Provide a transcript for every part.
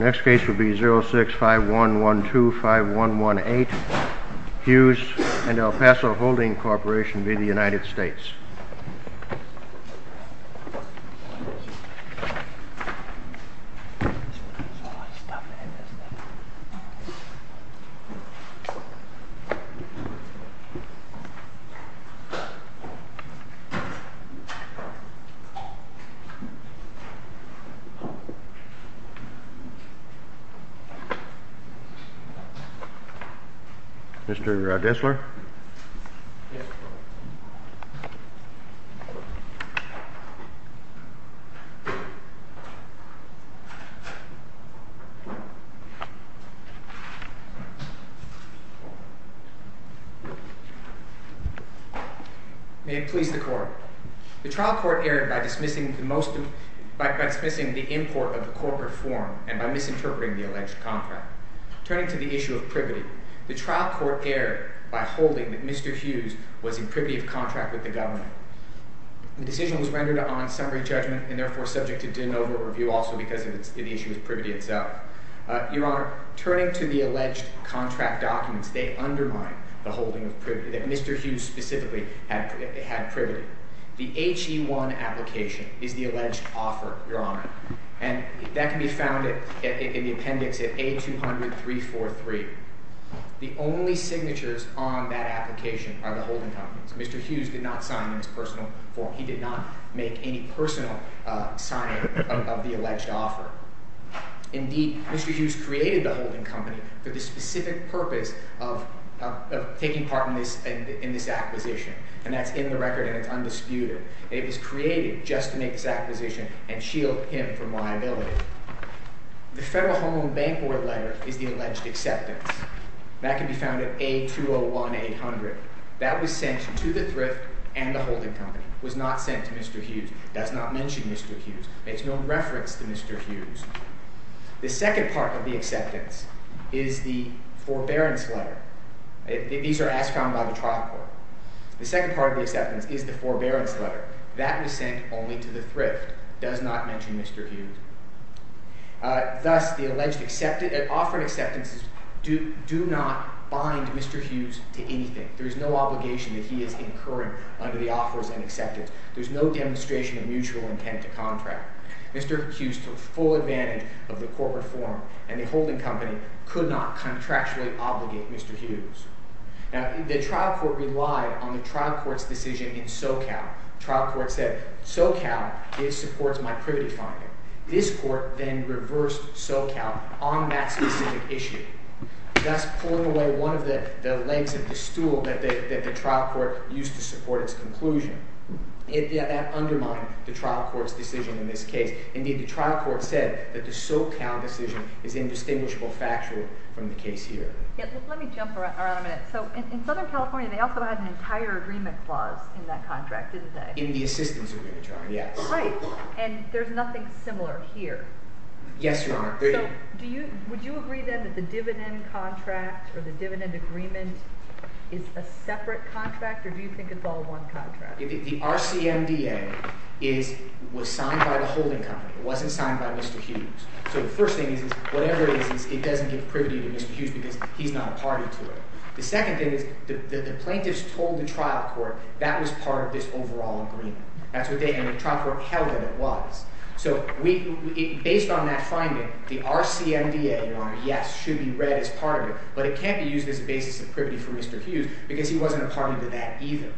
Next case will be 06-5112-5118 Hughes v. El Paso Holding Corporation v. United States Next case will be 06-5112-5118 Hughes v. United States May it please the court. The trial court erred by dismissing the import of the corporate form and by misinterpreting the alleged contract. Turning to the issue of privity, the trial court erred by holding that Mr. Hughes was in privity of contract with the government. The decision was rendered on summary judgment and therefore subject to de novo review also because of the issue of privity itself. Your Honor, turning to the alleged contract documents, they undermine the holding of privity, that Mr. Hughes specifically had privity. The HE-1 application is the alleged offer, Your Honor, and that can be found in the appendix at A-200-343. The only signatures on that application are the holding company's. Mr. Hughes did not sign in his personal form. He did not make any personal signing of the alleged offer. Indeed, Mr. Hughes created the holding company for the specific purpose of taking part in this acquisition, and that's in the record and it's undisputed. It was created just to make this acquisition and shield him from liability. The Federal Home and Bank Board letter is the alleged acceptance. That can be found at A-201-800. That was sent to the thrift and the holding company. It was not sent to Mr. Hughes. It does not mention Mr. Hughes. It makes no reference to Mr. Hughes. The second part of the acceptance is the forbearance letter. These are as found by the trial court. The second part of the acceptance is the forbearance letter. That was sent only to the thrift. It does not mention Mr. Hughes. Thus, the alleged offer and acceptance do not bind Mr. Hughes to anything. There is no obligation that he is incurring under the offers and acceptance. There's no demonstration of mutual intent to contract. Mr. Hughes took full advantage of the court reform, and the holding company could not contractually obligate Mr. Hughes. Now, the trial court relied on the trial court's decision in SoCal. The trial court said, SoCal supports my privity finding. This court then reversed SoCal on that specific issue, thus pulling away one of the legs of the stool that the trial court used to support its conclusion. That undermined the trial court's decision in this case. Indeed, the trial court said that the SoCal decision is indistinguishable factually from the case here. Let me jump around a minute. So in Southern California, they also had an entire agreement clause in that contract, didn't they? In the assistance agreement, Your Honor. Yes. Right, and there's nothing similar here. Yes, Your Honor. So do you – would you agree then that the dividend contract or the dividend agreement is a separate contract, or do you think it's all one contract? The RCMDA is – was signed by the holding company. It wasn't signed by Mr. Hughes. So the first thing is whatever it is, it doesn't give privity to Mr. Hughes because he's not a party to it. The second thing is the plaintiffs told the trial court that was part of this overall agreement. That's what they – and the trial court held that it was. So based on that finding, the RCMDA, Your Honor, yes, should be read as part of it. But it can't be used as a basis of privity for Mr. Hughes because he wasn't a party to that either.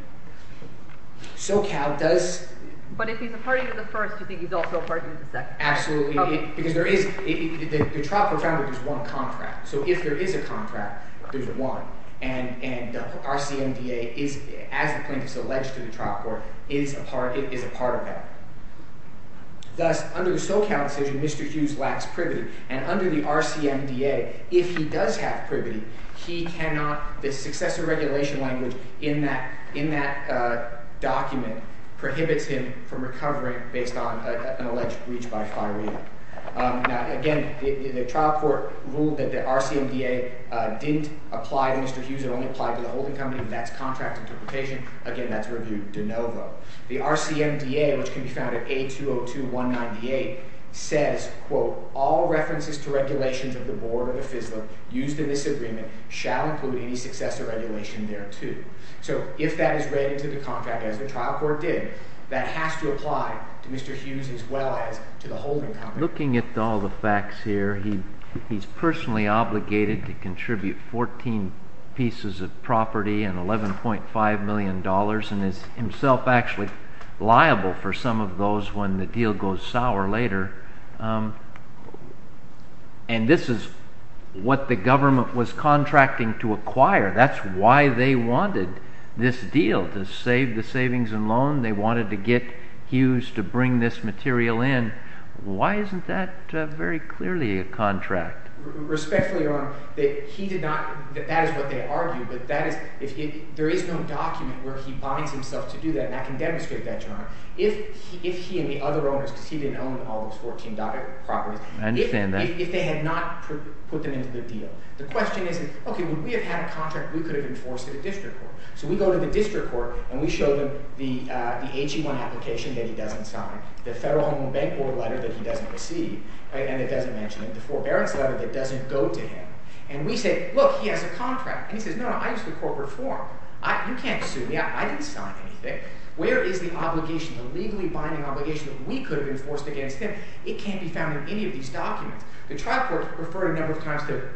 SoCal does – But if he's a party to the first, do you think he's also a party to the second? Absolutely, because there is – the trial court found that there's one contract. So if there is a contract, there's one, and RCMDA is, as the plaintiffs allege to the trial court, is a part of that. Thus, under the SoCal decision, Mr. Hughes lacks privity. And under the RCMDA, if he does have privity, he cannot – the successor regulation language in that document prohibits him from recovering based on an alleged breach by FIREA. Now, again, the trial court ruled that the RCMDA didn't apply to Mr. Hughes. It only applied to the holding company, and that's contract interpretation. Again, that's review de novo. The RCMDA, which can be found at A202-198, says, quote, All references to regulations of the Board of the FSLA used in this agreement shall include any successor regulation thereto. So if that is read into the contract as the trial court did, that has to apply to Mr. Hughes as well as to the holding company. And looking at all the facts here, he's personally obligated to contribute 14 pieces of property and $11.5 million and is himself actually liable for some of those when the deal goes sour later. And this is what the government was contracting to acquire. That's why they wanted this deal, to save the savings and loan. They wanted to get Hughes to bring this material in. Why isn't that very clearly a contract? Respectfully, Your Honor, he did not – that is what they argued. But that is – there is no document where he binds himself to do that, and I can demonstrate that to you, Your Honor. If he and the other owners – because he didn't own all those 14 properties. I understand that. If they had not put them into the deal, the question isn't, okay, would we have had a contract we could have enforced at a district court? So we go to the district court and we show them the HE-1 application that he doesn't sign. The Federal Home Loan Bank Board letter that he doesn't receive. And it doesn't mention it. The forbearance letter that doesn't go to him. And we say, look, he has a contract. And he says, no, no, I used the corporate form. You can't sue me. I didn't sign anything. Where is the obligation, the legally binding obligation that we could have enforced against him? It can't be found in any of these documents. The tribe court referred a number of times to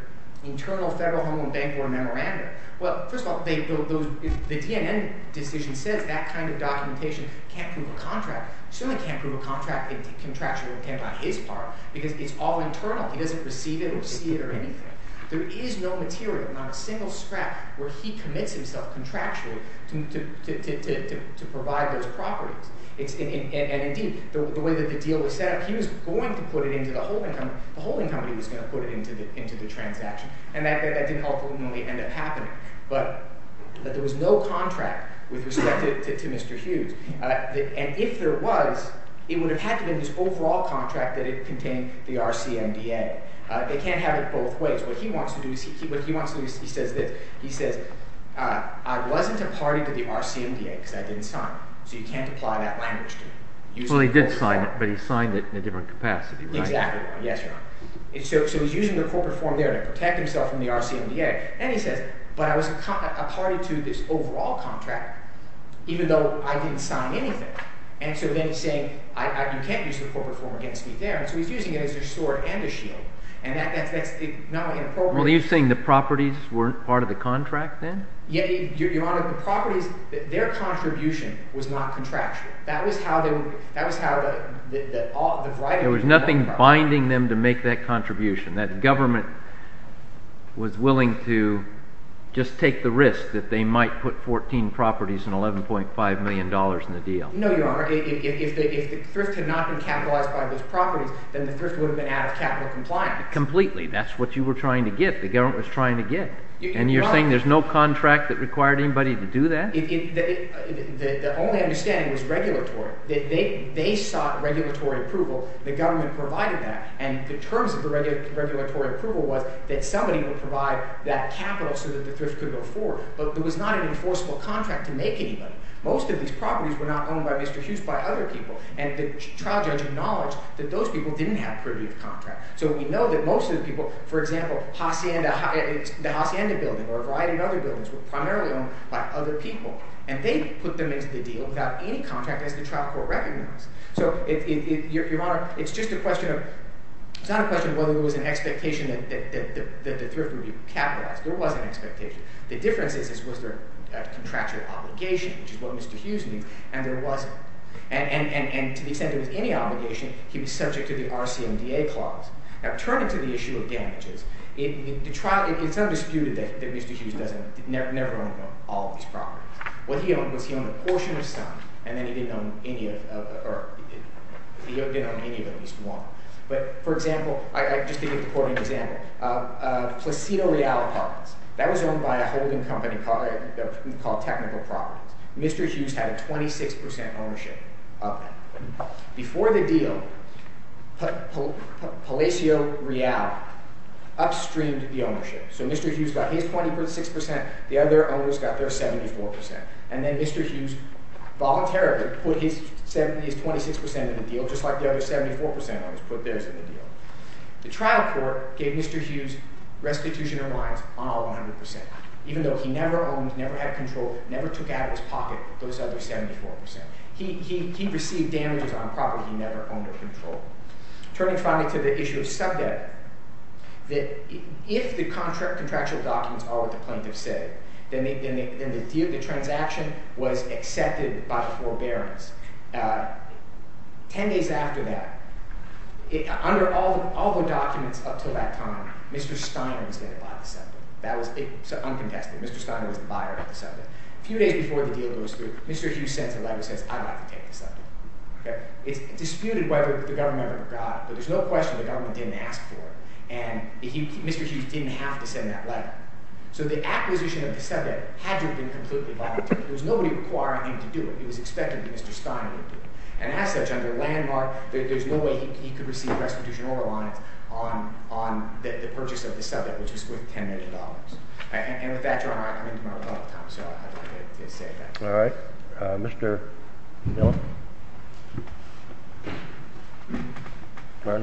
internal Federal Home Loan Bank Board memoranda. Well, first of all, the DNN decision says that kind of documentation can't prove a contract. It certainly can't prove a contract contractually obtained on his part because it's all internal. He doesn't receive it or see it or anything. There is no material, not a single scrap, where he commits himself contractually to provide those properties. And indeed, the way that the deal was set up, he was going to put it into the holding company. The holding company was going to put it into the transaction. And that didn't ultimately end up happening. But there was no contract with respect to Mr. Hughes. And if there was, it would have had to have been his overall contract that it contained the RCMDA. They can't have it both ways. What he wants to do is he says this. He says, I wasn't a party to the RCMDA because I didn't sign. So you can't apply that language to me. Well, he did sign it, but he signed it in a different capacity. Exactly. Yes, Your Honor. So he's using the corporate form there to protect himself from the RCMDA. And he says, but I was a party to this overall contract even though I didn't sign anything. And so then he's saying, you can't use the corporate form against me there. And so he's using it as a sword and a shield. And that's now inappropriate. Well, are you saying the properties weren't part of the contract then? Yes, Your Honor. The properties – their contribution was not contractual. That was how the writing was done. There was nothing binding them to make that contribution. That government was willing to just take the risk that they might put 14 properties and $11.5 million in the deal. No, Your Honor. If the thrift had not been capitalized by those properties, then the thrift would have been out of capital compliance. Completely. That's what you were trying to get. The government was trying to get. And you're saying there's no contract that required anybody to do that? The only understanding was regulatory. They sought regulatory approval. The government provided that. And the terms of the regulatory approval was that somebody would provide that capital so that the thrift could go forward. But there was not an enforceable contract to make anybody. Most of these properties were not owned by Mr. Hughes, by other people. And the trial judge acknowledged that those people didn't have privy of contract. So we know that most of the people – for example, the Hacienda building or a variety of other buildings were primarily owned by other people. And they put them into the deal without any contract, as the trial court recognized. So, Your Honor, it's just a question of – it's not a question of whether there was an expectation that the thrift would be capitalized. There was an expectation. The difference is, was there a contractual obligation, which is what Mr. Hughes means, and there wasn't. And to the extent there was any obligation, he was subject to the RCMDA clause. Now, turning to the issue of damages, the trial – it's undisputed that Mr. Hughes doesn't – never owned all of these properties. What he owned was he owned a portion of some, and then he didn't own any of – or he didn't own any of at least one. But, for example – just to give the courting example, Placido Real Apartments. That was owned by a holding company called Technical Properties. Mr. Hughes had a 26 percent ownership of that. Before the deal, Palacio Real upstreamed the ownership. So Mr. Hughes got his 26 percent. The other owners got their 74 percent. And then Mr. Hughes voluntarily put his 26 percent in the deal, just like the other 74 percent owners put theirs in the deal. The trial court gave Mr. Hughes restitution and liens on all 100 percent, even though he never owned, never had control, never took out of his pocket those other 74 percent. He received damages on property he never owned or controlled. Turning finally to the issue of subdebt, if the contractual documents are what the plaintiff said, then the transaction was accepted by forbearance. Ten days after that, under all the documents up until that time, Mr. Steiner was going to buy the subject. That was uncontested. Mr. Steiner was the buyer of the subject. A few days before the deal goes through, Mr. Hughes sends a letter and says, I'd like to take the subject. It's disputed whether the government ever got it, but there's no question the government didn't ask for it. And Mr. Hughes didn't have to send that letter. So the acquisition of the subject had to have been completely voluntary. There was nobody requiring him to do it. It was expected that Mr. Steiner would do it. And as such, under landmark, there's no way he could receive restitution or liens on the purchase of the subject, which was worth $10 million. And with that, Your Honor, I'm into my rebuttal time, so I'd like to say thank you. All right. Mr. Miller. Good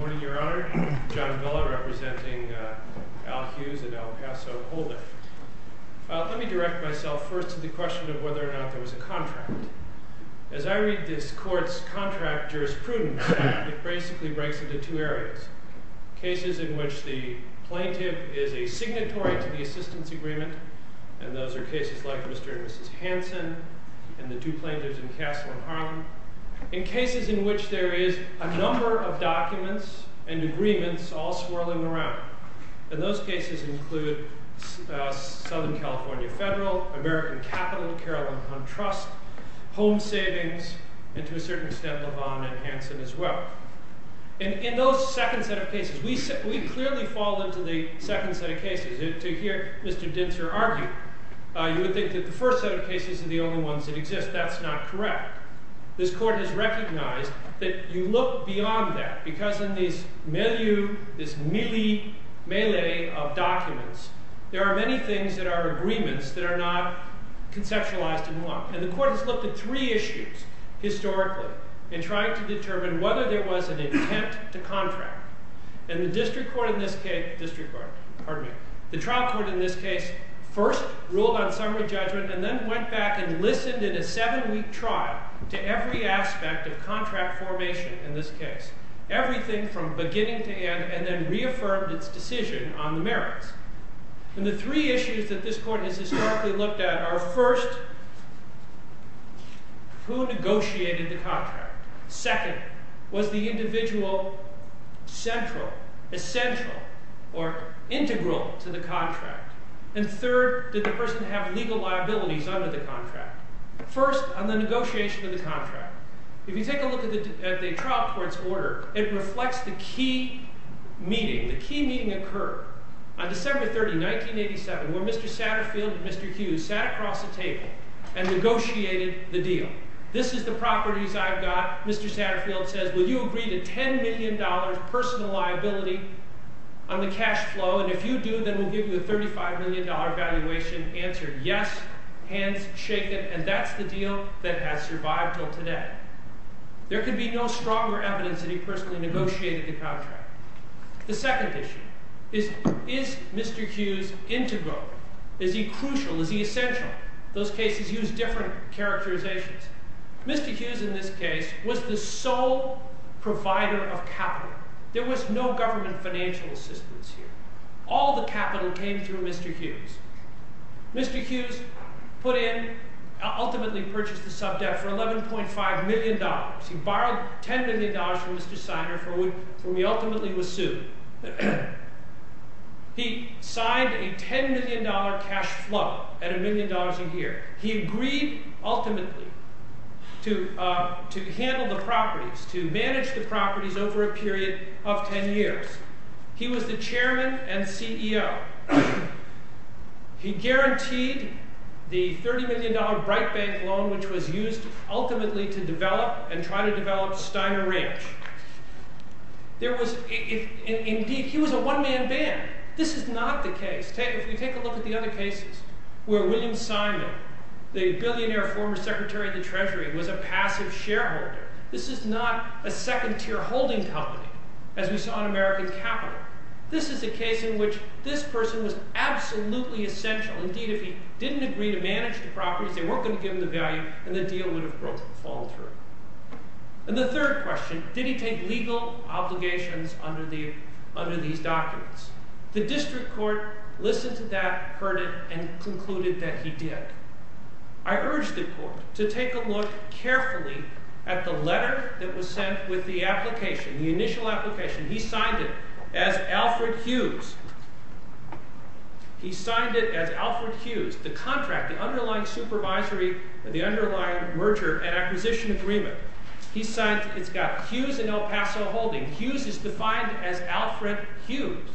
morning, Your Honor. John Miller representing Al Hughes and Al Paso Holder. Let me direct myself first to the question of whether or not there was a contract. As I read this court's contract jurisprudence, it basically breaks into two areas. Cases in which the plaintiff is a signatory to the assistance agreement. And those are cases like Mr. and Mrs. Hanson and the two plaintiffs in Castle and Harlem. In cases in which there is a number of documents and agreements all swirling around. And those cases include Southern California Federal, American Capital, Carolyn Hunt Trust, Home Savings, and to a certain extent, Levon and Hanson as well. In those second set of cases, we clearly fall into the second set of cases. To hear Mr. Dintzer argue, you would think that the first set of cases are the only ones that exist. That's not correct. This court has recognized that you look beyond that because in this milieu, this melee of documents, there are many things that are agreements that are not conceptualized in one. And the court has looked at three issues historically in trying to determine whether there was an intent to contract. The trial court in this case first ruled on summary judgment and then went back and listened in a seven-week trial to every aspect of contract formation in this case. Everything from beginning to end and then reaffirmed its decision on the merits. And the three issues that this court has historically looked at are first, who negotiated the contract? Second, was the individual central, essential, or integral to the contract? And third, did the person have legal liabilities under the contract? First, on the negotiation of the contract, if you take a look at the trial court's order, it reflects the key meeting. The key meeting occurred on December 30, 1987, where Mr. Satterfield and Mr. Hughes sat across the table and negotiated the deal. This is the properties I've got. Mr. Satterfield says, will you agree to $10 million personal liability on the cash flow? And if you do, then we'll give you a $35 million valuation. Answered yes, hands shaken, and that's the deal that has survived until today. There could be no stronger evidence that he personally negotiated the contract. The second issue is, is Mr. Hughes integral? Is he crucial? Is he essential? Those cases use different characterizations. Mr. Hughes, in this case, was the sole provider of capital. There was no government financial assistance here. All the capital came through Mr. Hughes. Mr. Hughes put in, ultimately purchased the sub-debt for $11.5 million. He borrowed $10 million from Mr. Sider, for which he ultimately was sued. He signed a $10 million cash flow at $1 million a year. He agreed, ultimately, to handle the properties, to manage the properties over a period of 10 years. He was the chairman and CEO. He guaranteed the $30 million Bright Bank loan, which was used, ultimately, to develop and try to develop Steiner Ranch. Indeed, he was a one-man band. This is not the case. If we take a look at the other cases, where William Simon, the billionaire former Secretary of the Treasury, was a passive shareholder. This is not a second-tier holding company, as we saw in American capital. This is a case in which this person was absolutely essential. Indeed, if he didn't agree to manage the properties, they weren't going to give him the value, and the deal would have fallen through. And the third question, did he take legal obligations under these documents? The district court listened to that, heard it, and concluded that he did. I urge the court to take a look carefully at the letter that was sent with the application, the initial application. He signed it as Alfred Hughes. He signed it as Alfred Hughes. The contract, the underlying supervisory, the underlying merger and acquisition agreement, he signed it. It's got Hughes and El Paso holding. Hughes is defined as Alfred Hughes.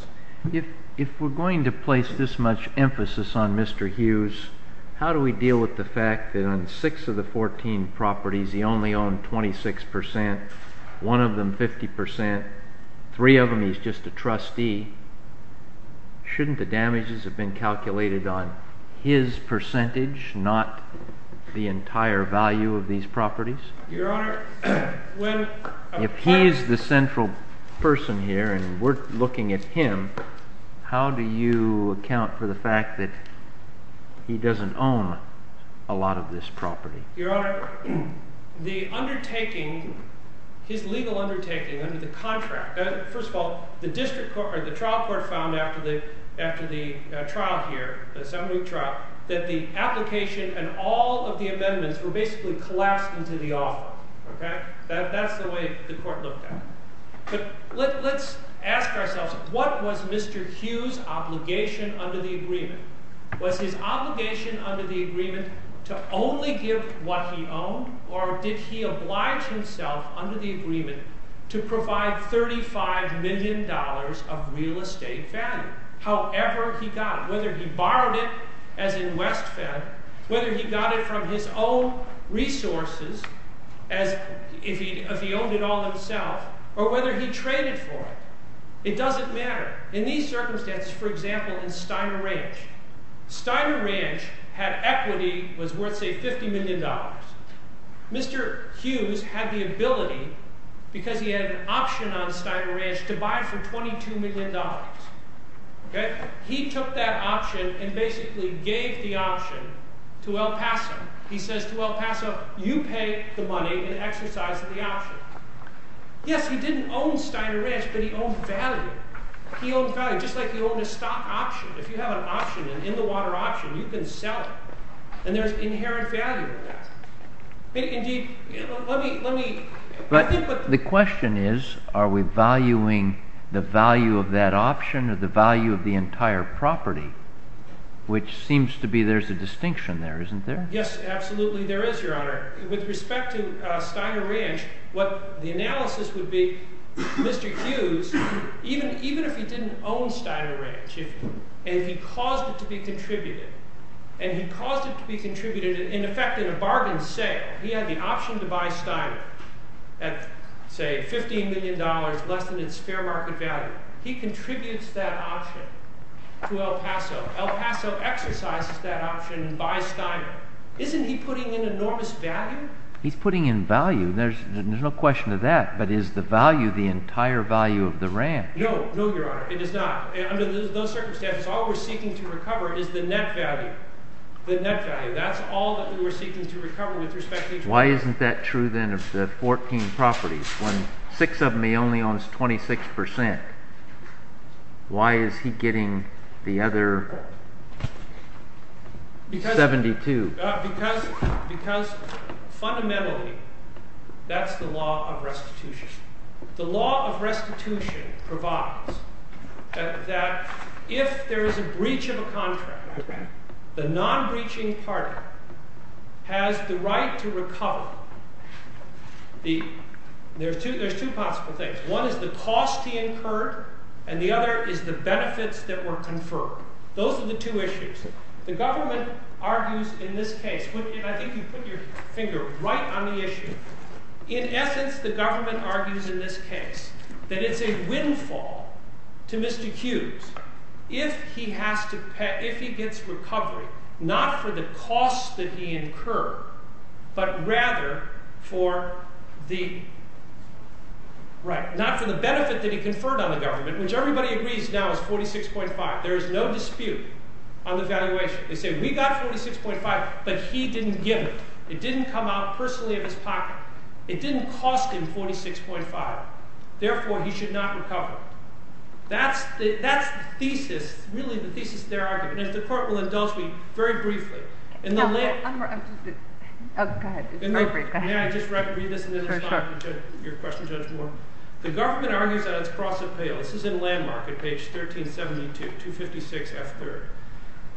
If we're going to place this much emphasis on Mr. Hughes, how do we deal with the fact that on six of the 14 properties, he only owned 26 percent, one of them 50 percent, three of them he's just a trustee, shouldn't the damages have been calculated on his percentage, not the entire value of these properties? Your Honor, when a person... If he's the central person here and we're looking at him, how do you account for the fact that he doesn't own a lot of this property? Your Honor, the undertaking, his legal undertaking under the contract, first of all, the trial court found after the trial here, the seven-week trial, that the application and all of the amendments were basically collapsed into the offer. That's the way the court looked at it. Let's ask ourselves, what was Mr. Hughes' obligation under the agreement? Was his obligation under the agreement to only give what he owned, or did he oblige himself under the agreement to provide $35 million of real estate value, however he got it, whether he borrowed it, as in West Fed, whether he got it from his own resources, if he owned it all himself, or whether he traded for it. It doesn't matter. In these circumstances, for example, in Steiner Ranch. Steiner Ranch had equity that was worth, say, $50 million. Mr. Hughes had the ability, because he had an option on Steiner Ranch, to buy it for $22 million. He took that option and basically gave the option to El Paso. He says to El Paso, you pay the money and exercise the option. Yes, he didn't own Steiner Ranch, but he owned value. He owned value, just like he owned a stock option. If you have an option, an in-the-water option, you can sell it. And there's inherent value in that. The question is, are we valuing the value of that option or the value of the entire property, which seems to be there's a distinction there, isn't there? Yes, absolutely there is, Your Honor. With respect to Steiner Ranch, what the analysis would be, Mr. Hughes, even if he didn't own Steiner Ranch, and he caused it to be contributed, and he caused it to be contributed, in effect, in a bargain sale, he had the option to buy Steiner at, say, $15 million, less than its fair market value. He contributes that option to El Paso. El Paso exercises that option and buys Steiner. Isn't he putting in enormous value? He's putting in value. There's no question of that. But is the value the entire value of the ranch? No. No, Your Honor. It is not. Under those circumstances, all we're seeking to recover is the net value. The net value. That's all that we're seeking to recover with respect to each property. Why isn't that true, then, of the 14 properties, when six of them, he only owns 26 percent? Why is he getting the other 72? Because fundamentally, that's the law of restitution. The law of restitution provides that if there is a breach of a contract, the non-breaching party has the right to recover. There's two possible things. One is the cost he incurred, and the other is the benefits that were conferred. Those are the two issues. The government argues in this case, and I think you put your finger right on the issue. In essence, the government argues in this case that it's a windfall to Mr. Hughes if he gets recovery, not for the cost that he incurred, but rather for the benefit that he conferred on the government, which everybody agrees now is 46.5. There is no dispute on the valuation. They say, we got 46.5, but he didn't give it. It didn't come out personally of his pocket. It didn't cost him 46.5. Therefore, he should not recover. That's the thesis, really the thesis of their argument. And the court will indulge me very briefly. May I just read this and then respond to your question, Judge Moore? The government argues on its cross appeal. This is in Landmark at page 1372, 256F3rd.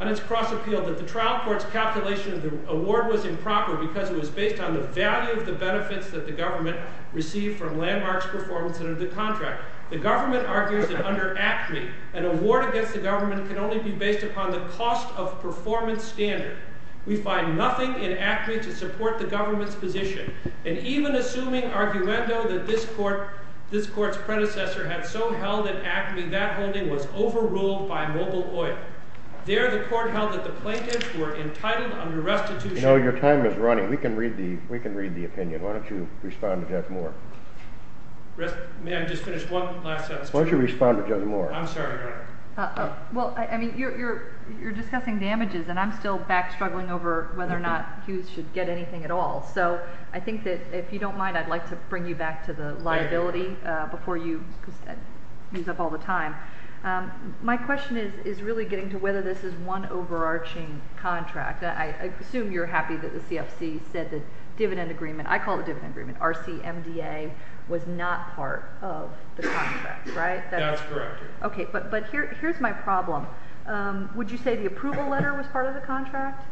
On its cross appeal that the trial court's calculation of the award was improper because it was based on the value of the benefits that the government received from Landmark's performance under the contract. The government argues that under ACME, an award against the government can only be based upon the cost of performance standards. We find nothing in ACME to support the government's position. And even assuming arguendo that this court's predecessor had so held in ACME, that holding was overruled by mobile oil. There, the court held that the plaintiffs were entitled under restitution. You know, your time is running. We can read the opinion. Why don't you respond to Judge Moore? May I just finish one last sentence? Why don't you respond to Judge Moore? I'm sorry, Your Honor. Well, I mean, you're discussing damages, and I'm still back struggling over whether or not Hughes should get anything at all. So I think that if you don't mind, I'd like to bring you back to the liability before you lose up all the time. My question is really getting to whether this is one overarching contract. I assume you're happy that the CFC said the dividend agreement. I call it a dividend agreement. RCMDA was not part of the contract, right? That's correct. Okay, but here's my problem. Would you say the approval letter was part of the contract?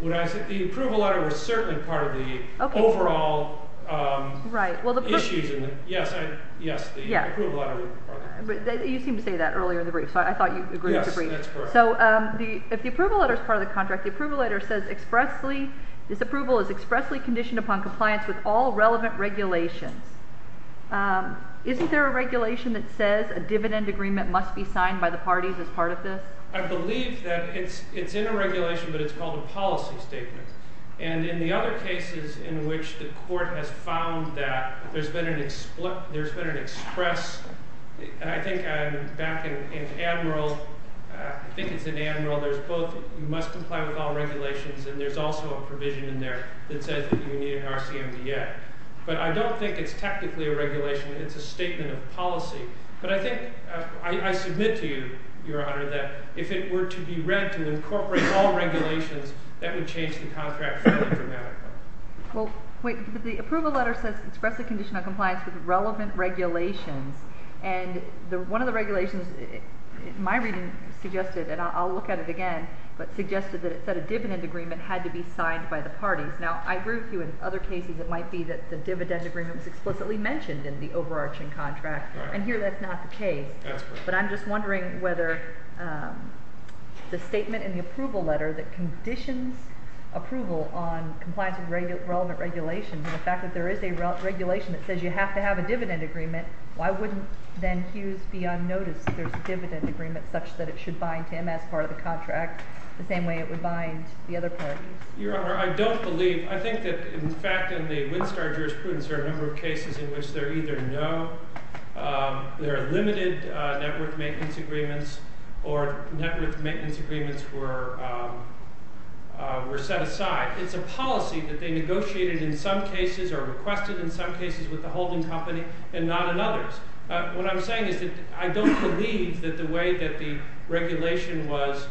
The approval letter was certainly part of the overall issues. Yes, the approval letter was part of the contract. You seemed to say that earlier in the brief, so I thought you agreed with the brief. Yes, that's correct. So if the approval letter is part of the contract, the approval letter says expressly this approval is expressly conditioned upon compliance with all relevant regulations. Isn't there a regulation that says a dividend agreement must be signed by the parties as part of this? I believe that it's in a regulation, but it's called a policy statement. And in the other cases in which the court has found that there's been an express and I think I'm back in Admiral, I think it's in Admiral, there's both you must comply with all regulations and there's also a provision in there that says that you need an RCMDA. But I don't think it's technically a regulation. It's a statement of policy. But I think I submit to you, Your Honor, that if it were to be read to incorporate all regulations, that would change the contract fairly dramatically. Well, the approval letter says expressly conditional compliance with relevant regulations. And one of the regulations in my reading suggested, and I'll look at it again, but suggested that it said a dividend agreement had to be signed by the parties. Now, I agree with you in other cases it might be that the dividend agreement was explicitly mentioned in the overarching contract. And here that's not the case. That's correct. But I'm just wondering whether the statement in the approval letter that conditions approval on compliance with relevant regulations and the fact that there is a regulation that says you have to have a dividend agreement, why wouldn't then Hughes be unnoticed that there's a dividend agreement such that it should bind to him as part of the contract the same way it would bind the other parties? Your Honor, I don't believe. I think that, in fact, in the Winstar jurisprudence there are a number of cases in which there are either no, there are limited network maintenance agreements, or network maintenance agreements were set aside. It's a policy that they negotiated in some cases or requested in some cases with the holding company and not in others. What I'm saying is that I don't believe that the way that the regulation was,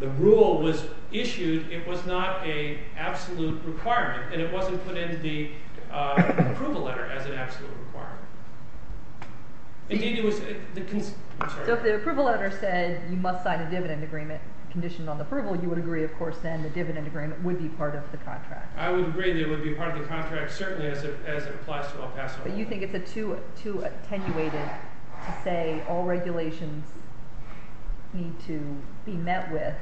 the rule was issued, it was not an absolute requirement, and it wasn't put in the approval letter as an absolute requirement. So if the approval letter said you must sign a dividend agreement conditioned on the approval, you would agree, of course, then the dividend agreement would be part of the contract. I would agree that it would be part of the contract, certainly as it applies to El Paso. But you think it's too attenuated to say all regulations need to be met with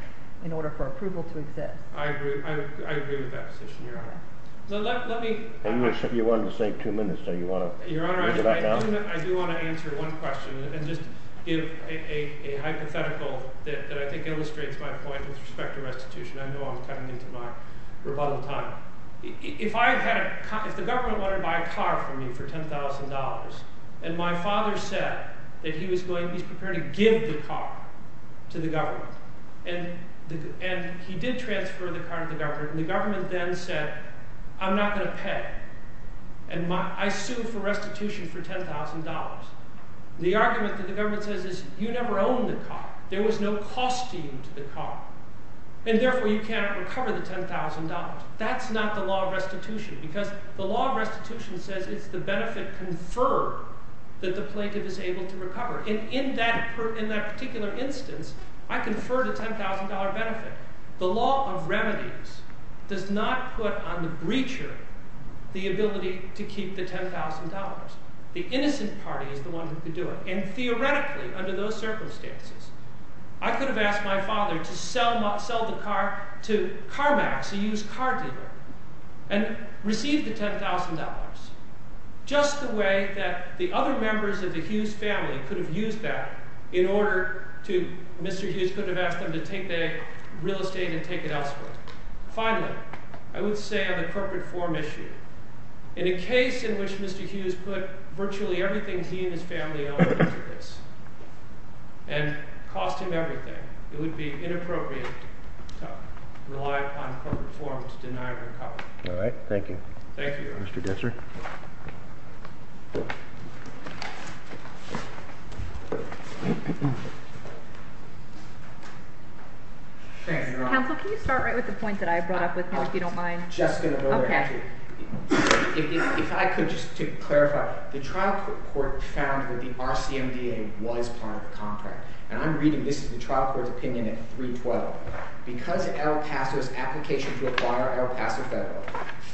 in order for approval to exist? I agree with that position, Your Honor. Let me... You wanted to say two minutes, so you want to go back now? Your Honor, I do want to answer one question and just give a hypothetical that I think illustrates my point with respect to restitution. I know I'm cutting into my rebuttal time. If the government wanted to buy a car from me for $10,000 and my father said that he was prepared to give the car to the government and he did transfer the car to the government, and the government then said, I'm not going to pay. I sued for restitution for $10,000. The argument that the government says is, you never owned the car. There was no cost to you to the car, and therefore you can't recover the $10,000. That's not the law of restitution, because the law of restitution says it's the benefit conferred that the plaintiff is able to recover. And in that particular instance, I confer the $10,000 benefit. The law of remedies does not put on the breacher the ability to keep the $10,000. The innocent party is the one who can do it, and theoretically, under those circumstances, I could have asked my father to sell the car to Carmax, a used car dealer, and received the $10,000 just the way that the other members of the Hughes family could have used that in order to... Mr. Hughes could have asked them to take their real estate and take it elsewhere. Finally, I would say on the corporate form issue, in a case in which Mr. Hughes put virtually everything he and his family owned into this and cost him everything, it would be inappropriate to rely upon corporate forms to deny recovery. All right. Thank you. Thank you, Your Honor. Mr. Disser. Counsel, can you start right with the point that I brought up with him, if you don't mind? Just going to... Okay. If I could, just to clarify, the trial court found that the RCMDA was part of the contract, and I'm reading this as the trial court's opinion at 312. Because El Paso's application to acquire El Paso Federal,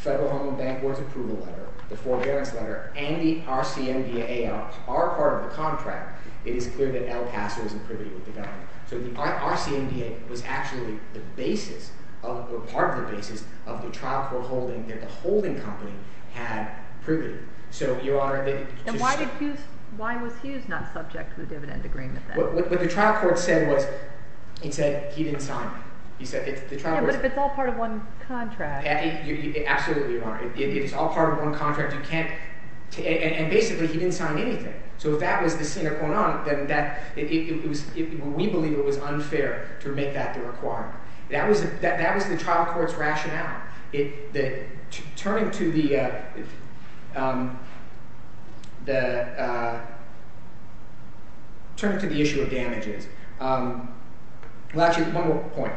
Federal Home and Bank Board's approval letter, the forbearance letter, and the RCMDA are part of the contract, it is clear that El Paso is in privity with the government. So the RCMDA was actually the basis, or part of the basis, of the trial court holding that the holding company had privity. So, Your Honor, the... And why did Hughes... Why was Hughes not subject to the dividend agreement then? What the trial court said was... Yeah, but if it's all part of one contract... Absolutely, Your Honor. If it's all part of one contract, you can't... And basically, he didn't sign anything. So if that was the scene or going on, then that... We believe it was unfair to make that the requirement. That was the trial court's rationale. Turning to the... Turning to the issue of damages. Well, actually, one more point.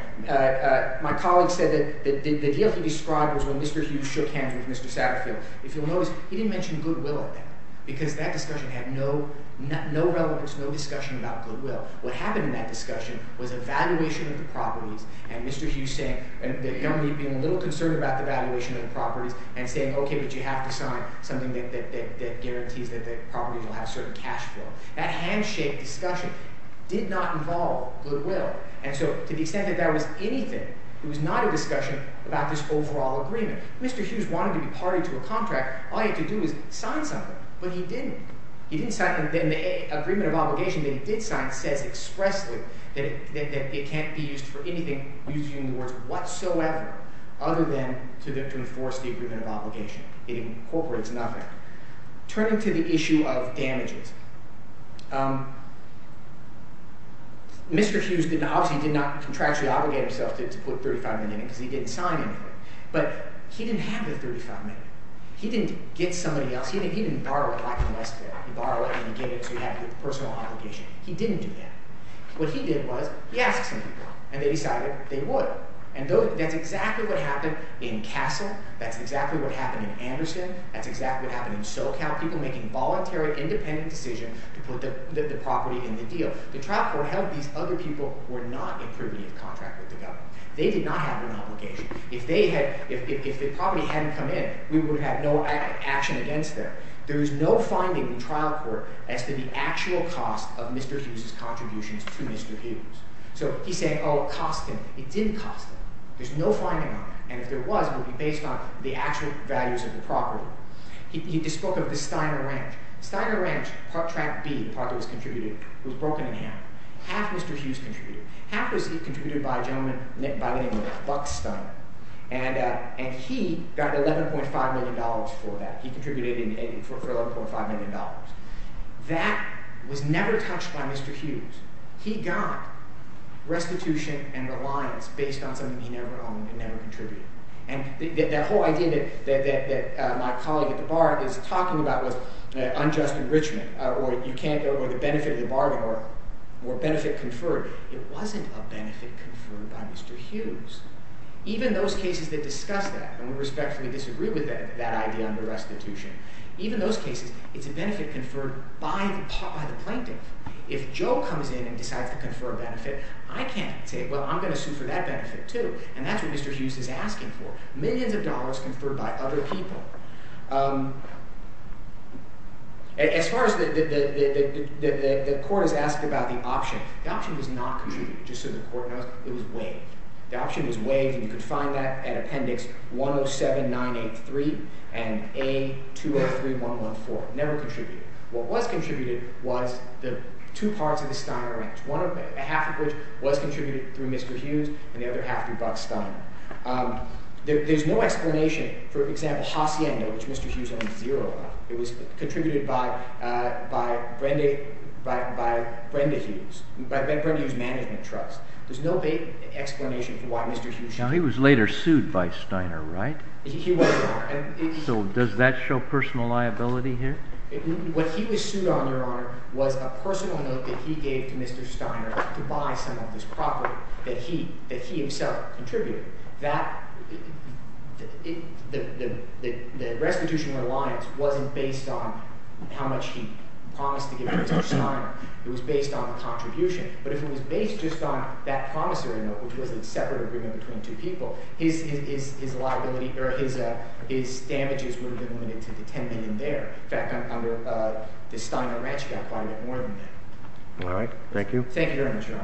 My colleague said that the deal he described was when Mr. Hughes shook hands with Mr. Satterfield. If you'll notice, he didn't mention goodwill at that. Because that discussion had no relevance, no discussion about goodwill. What happened in that discussion was a valuation of the properties, and Mr. Hughes saying... The government being a little concerned about the valuation of the properties, and saying, okay, but you have to sign something that guarantees that the properties will have certain cash flow. That handshake discussion did not involve goodwill. And so to the extent that there was anything, it was not a discussion about this overall agreement. Mr. Hughes wanted to be party to a contract. All you had to do was sign something. But he didn't. He didn't sign... And the agreement of obligation that he did sign says expressly that it can't be used for anything, using the words, whatsoever, other than to enforce the agreement of obligation. It incorporates nothing. Turning to the issue of damages. Mr. Hughes obviously did not contractually obligate himself to put $35 million in it because he didn't sign anything. But he didn't have the $35 million. He didn't get somebody else... He didn't borrow it like in Westfield. You borrow it and you get it so you have your personal obligation. He didn't do that. What he did was he asked some people, and they decided they would. And that's exactly what happened in Castle. That's exactly what happened in Anderson. That's exactly what happened in SoCal. They had people making voluntary, independent decisions to put the property in the deal. The trial court held these other people were not in privy to contract with the government. They did not have an obligation. If the property hadn't come in, we would have no action against them. There is no finding in trial court as to the actual cost of Mr. Hughes' contributions to Mr. Hughes. So he's saying, oh, it cost him. It didn't cost him. There's no finding on it. And if there was, it would be based on the actual values of the property. He spoke of the Steiner Ranch. Steiner Ranch, Part Track B, the part that was contributed, was broken in half. Half Mr. Hughes contributed. Half was contributed by a gentleman by the name of Buck Steiner. And he got $11.5 million for that. He contributed for $11.5 million. That was never touched by Mr. Hughes. He got restitution and reliance based on something he never owned and never contributed. And that whole idea that my colleague at the bar is talking about was unjust enrichment or the benefit of the bargain or benefit conferred, it wasn't a benefit conferred by Mr. Hughes. Even those cases that discuss that, and we respectfully disagree with that idea under restitution, even those cases, it's a benefit conferred by the plaintiff. If Joe comes in and decides to confer a benefit, I can't say, well, I'm going to sue for that benefit too. And that's what Mr. Hughes is asking for. Millions of dollars conferred by other people. As far as the court has asked about the option, the option was not contributed, just so the court knows, it was waived. The option was waived, and you could find that at appendix 107983 and A203114. Never contributed. What was contributed was the two parts of the Steiner ranch, a half of which was contributed through Mr. Hughes and the other half through Buck Steiner. There's no explanation. For example, Hacienda, which Mr. Hughes owns zero of, it was contributed by Brenda Hughes, by Brenda Hughes Management Trust. There's no explanation for why Mr. Hughes Now he was later sued by Steiner, right? He was, Your Honor. So does that show personal liability here? What he was sued on, Your Honor, was a personal note that he gave to Mr. Steiner to buy some of this property that he himself contributed. The restitution reliance wasn't based on how much he promised to give to Mr. Steiner. It was based on the contribution. But if it was based just on that promissory note, which was a separate agreement between two people, his damages would have been limited to the $10 million there. In fact, under the Steiner ranch, he got quite a bit more than that. All right. Thank you. Thank you very much, Your Honor. The case is submitted.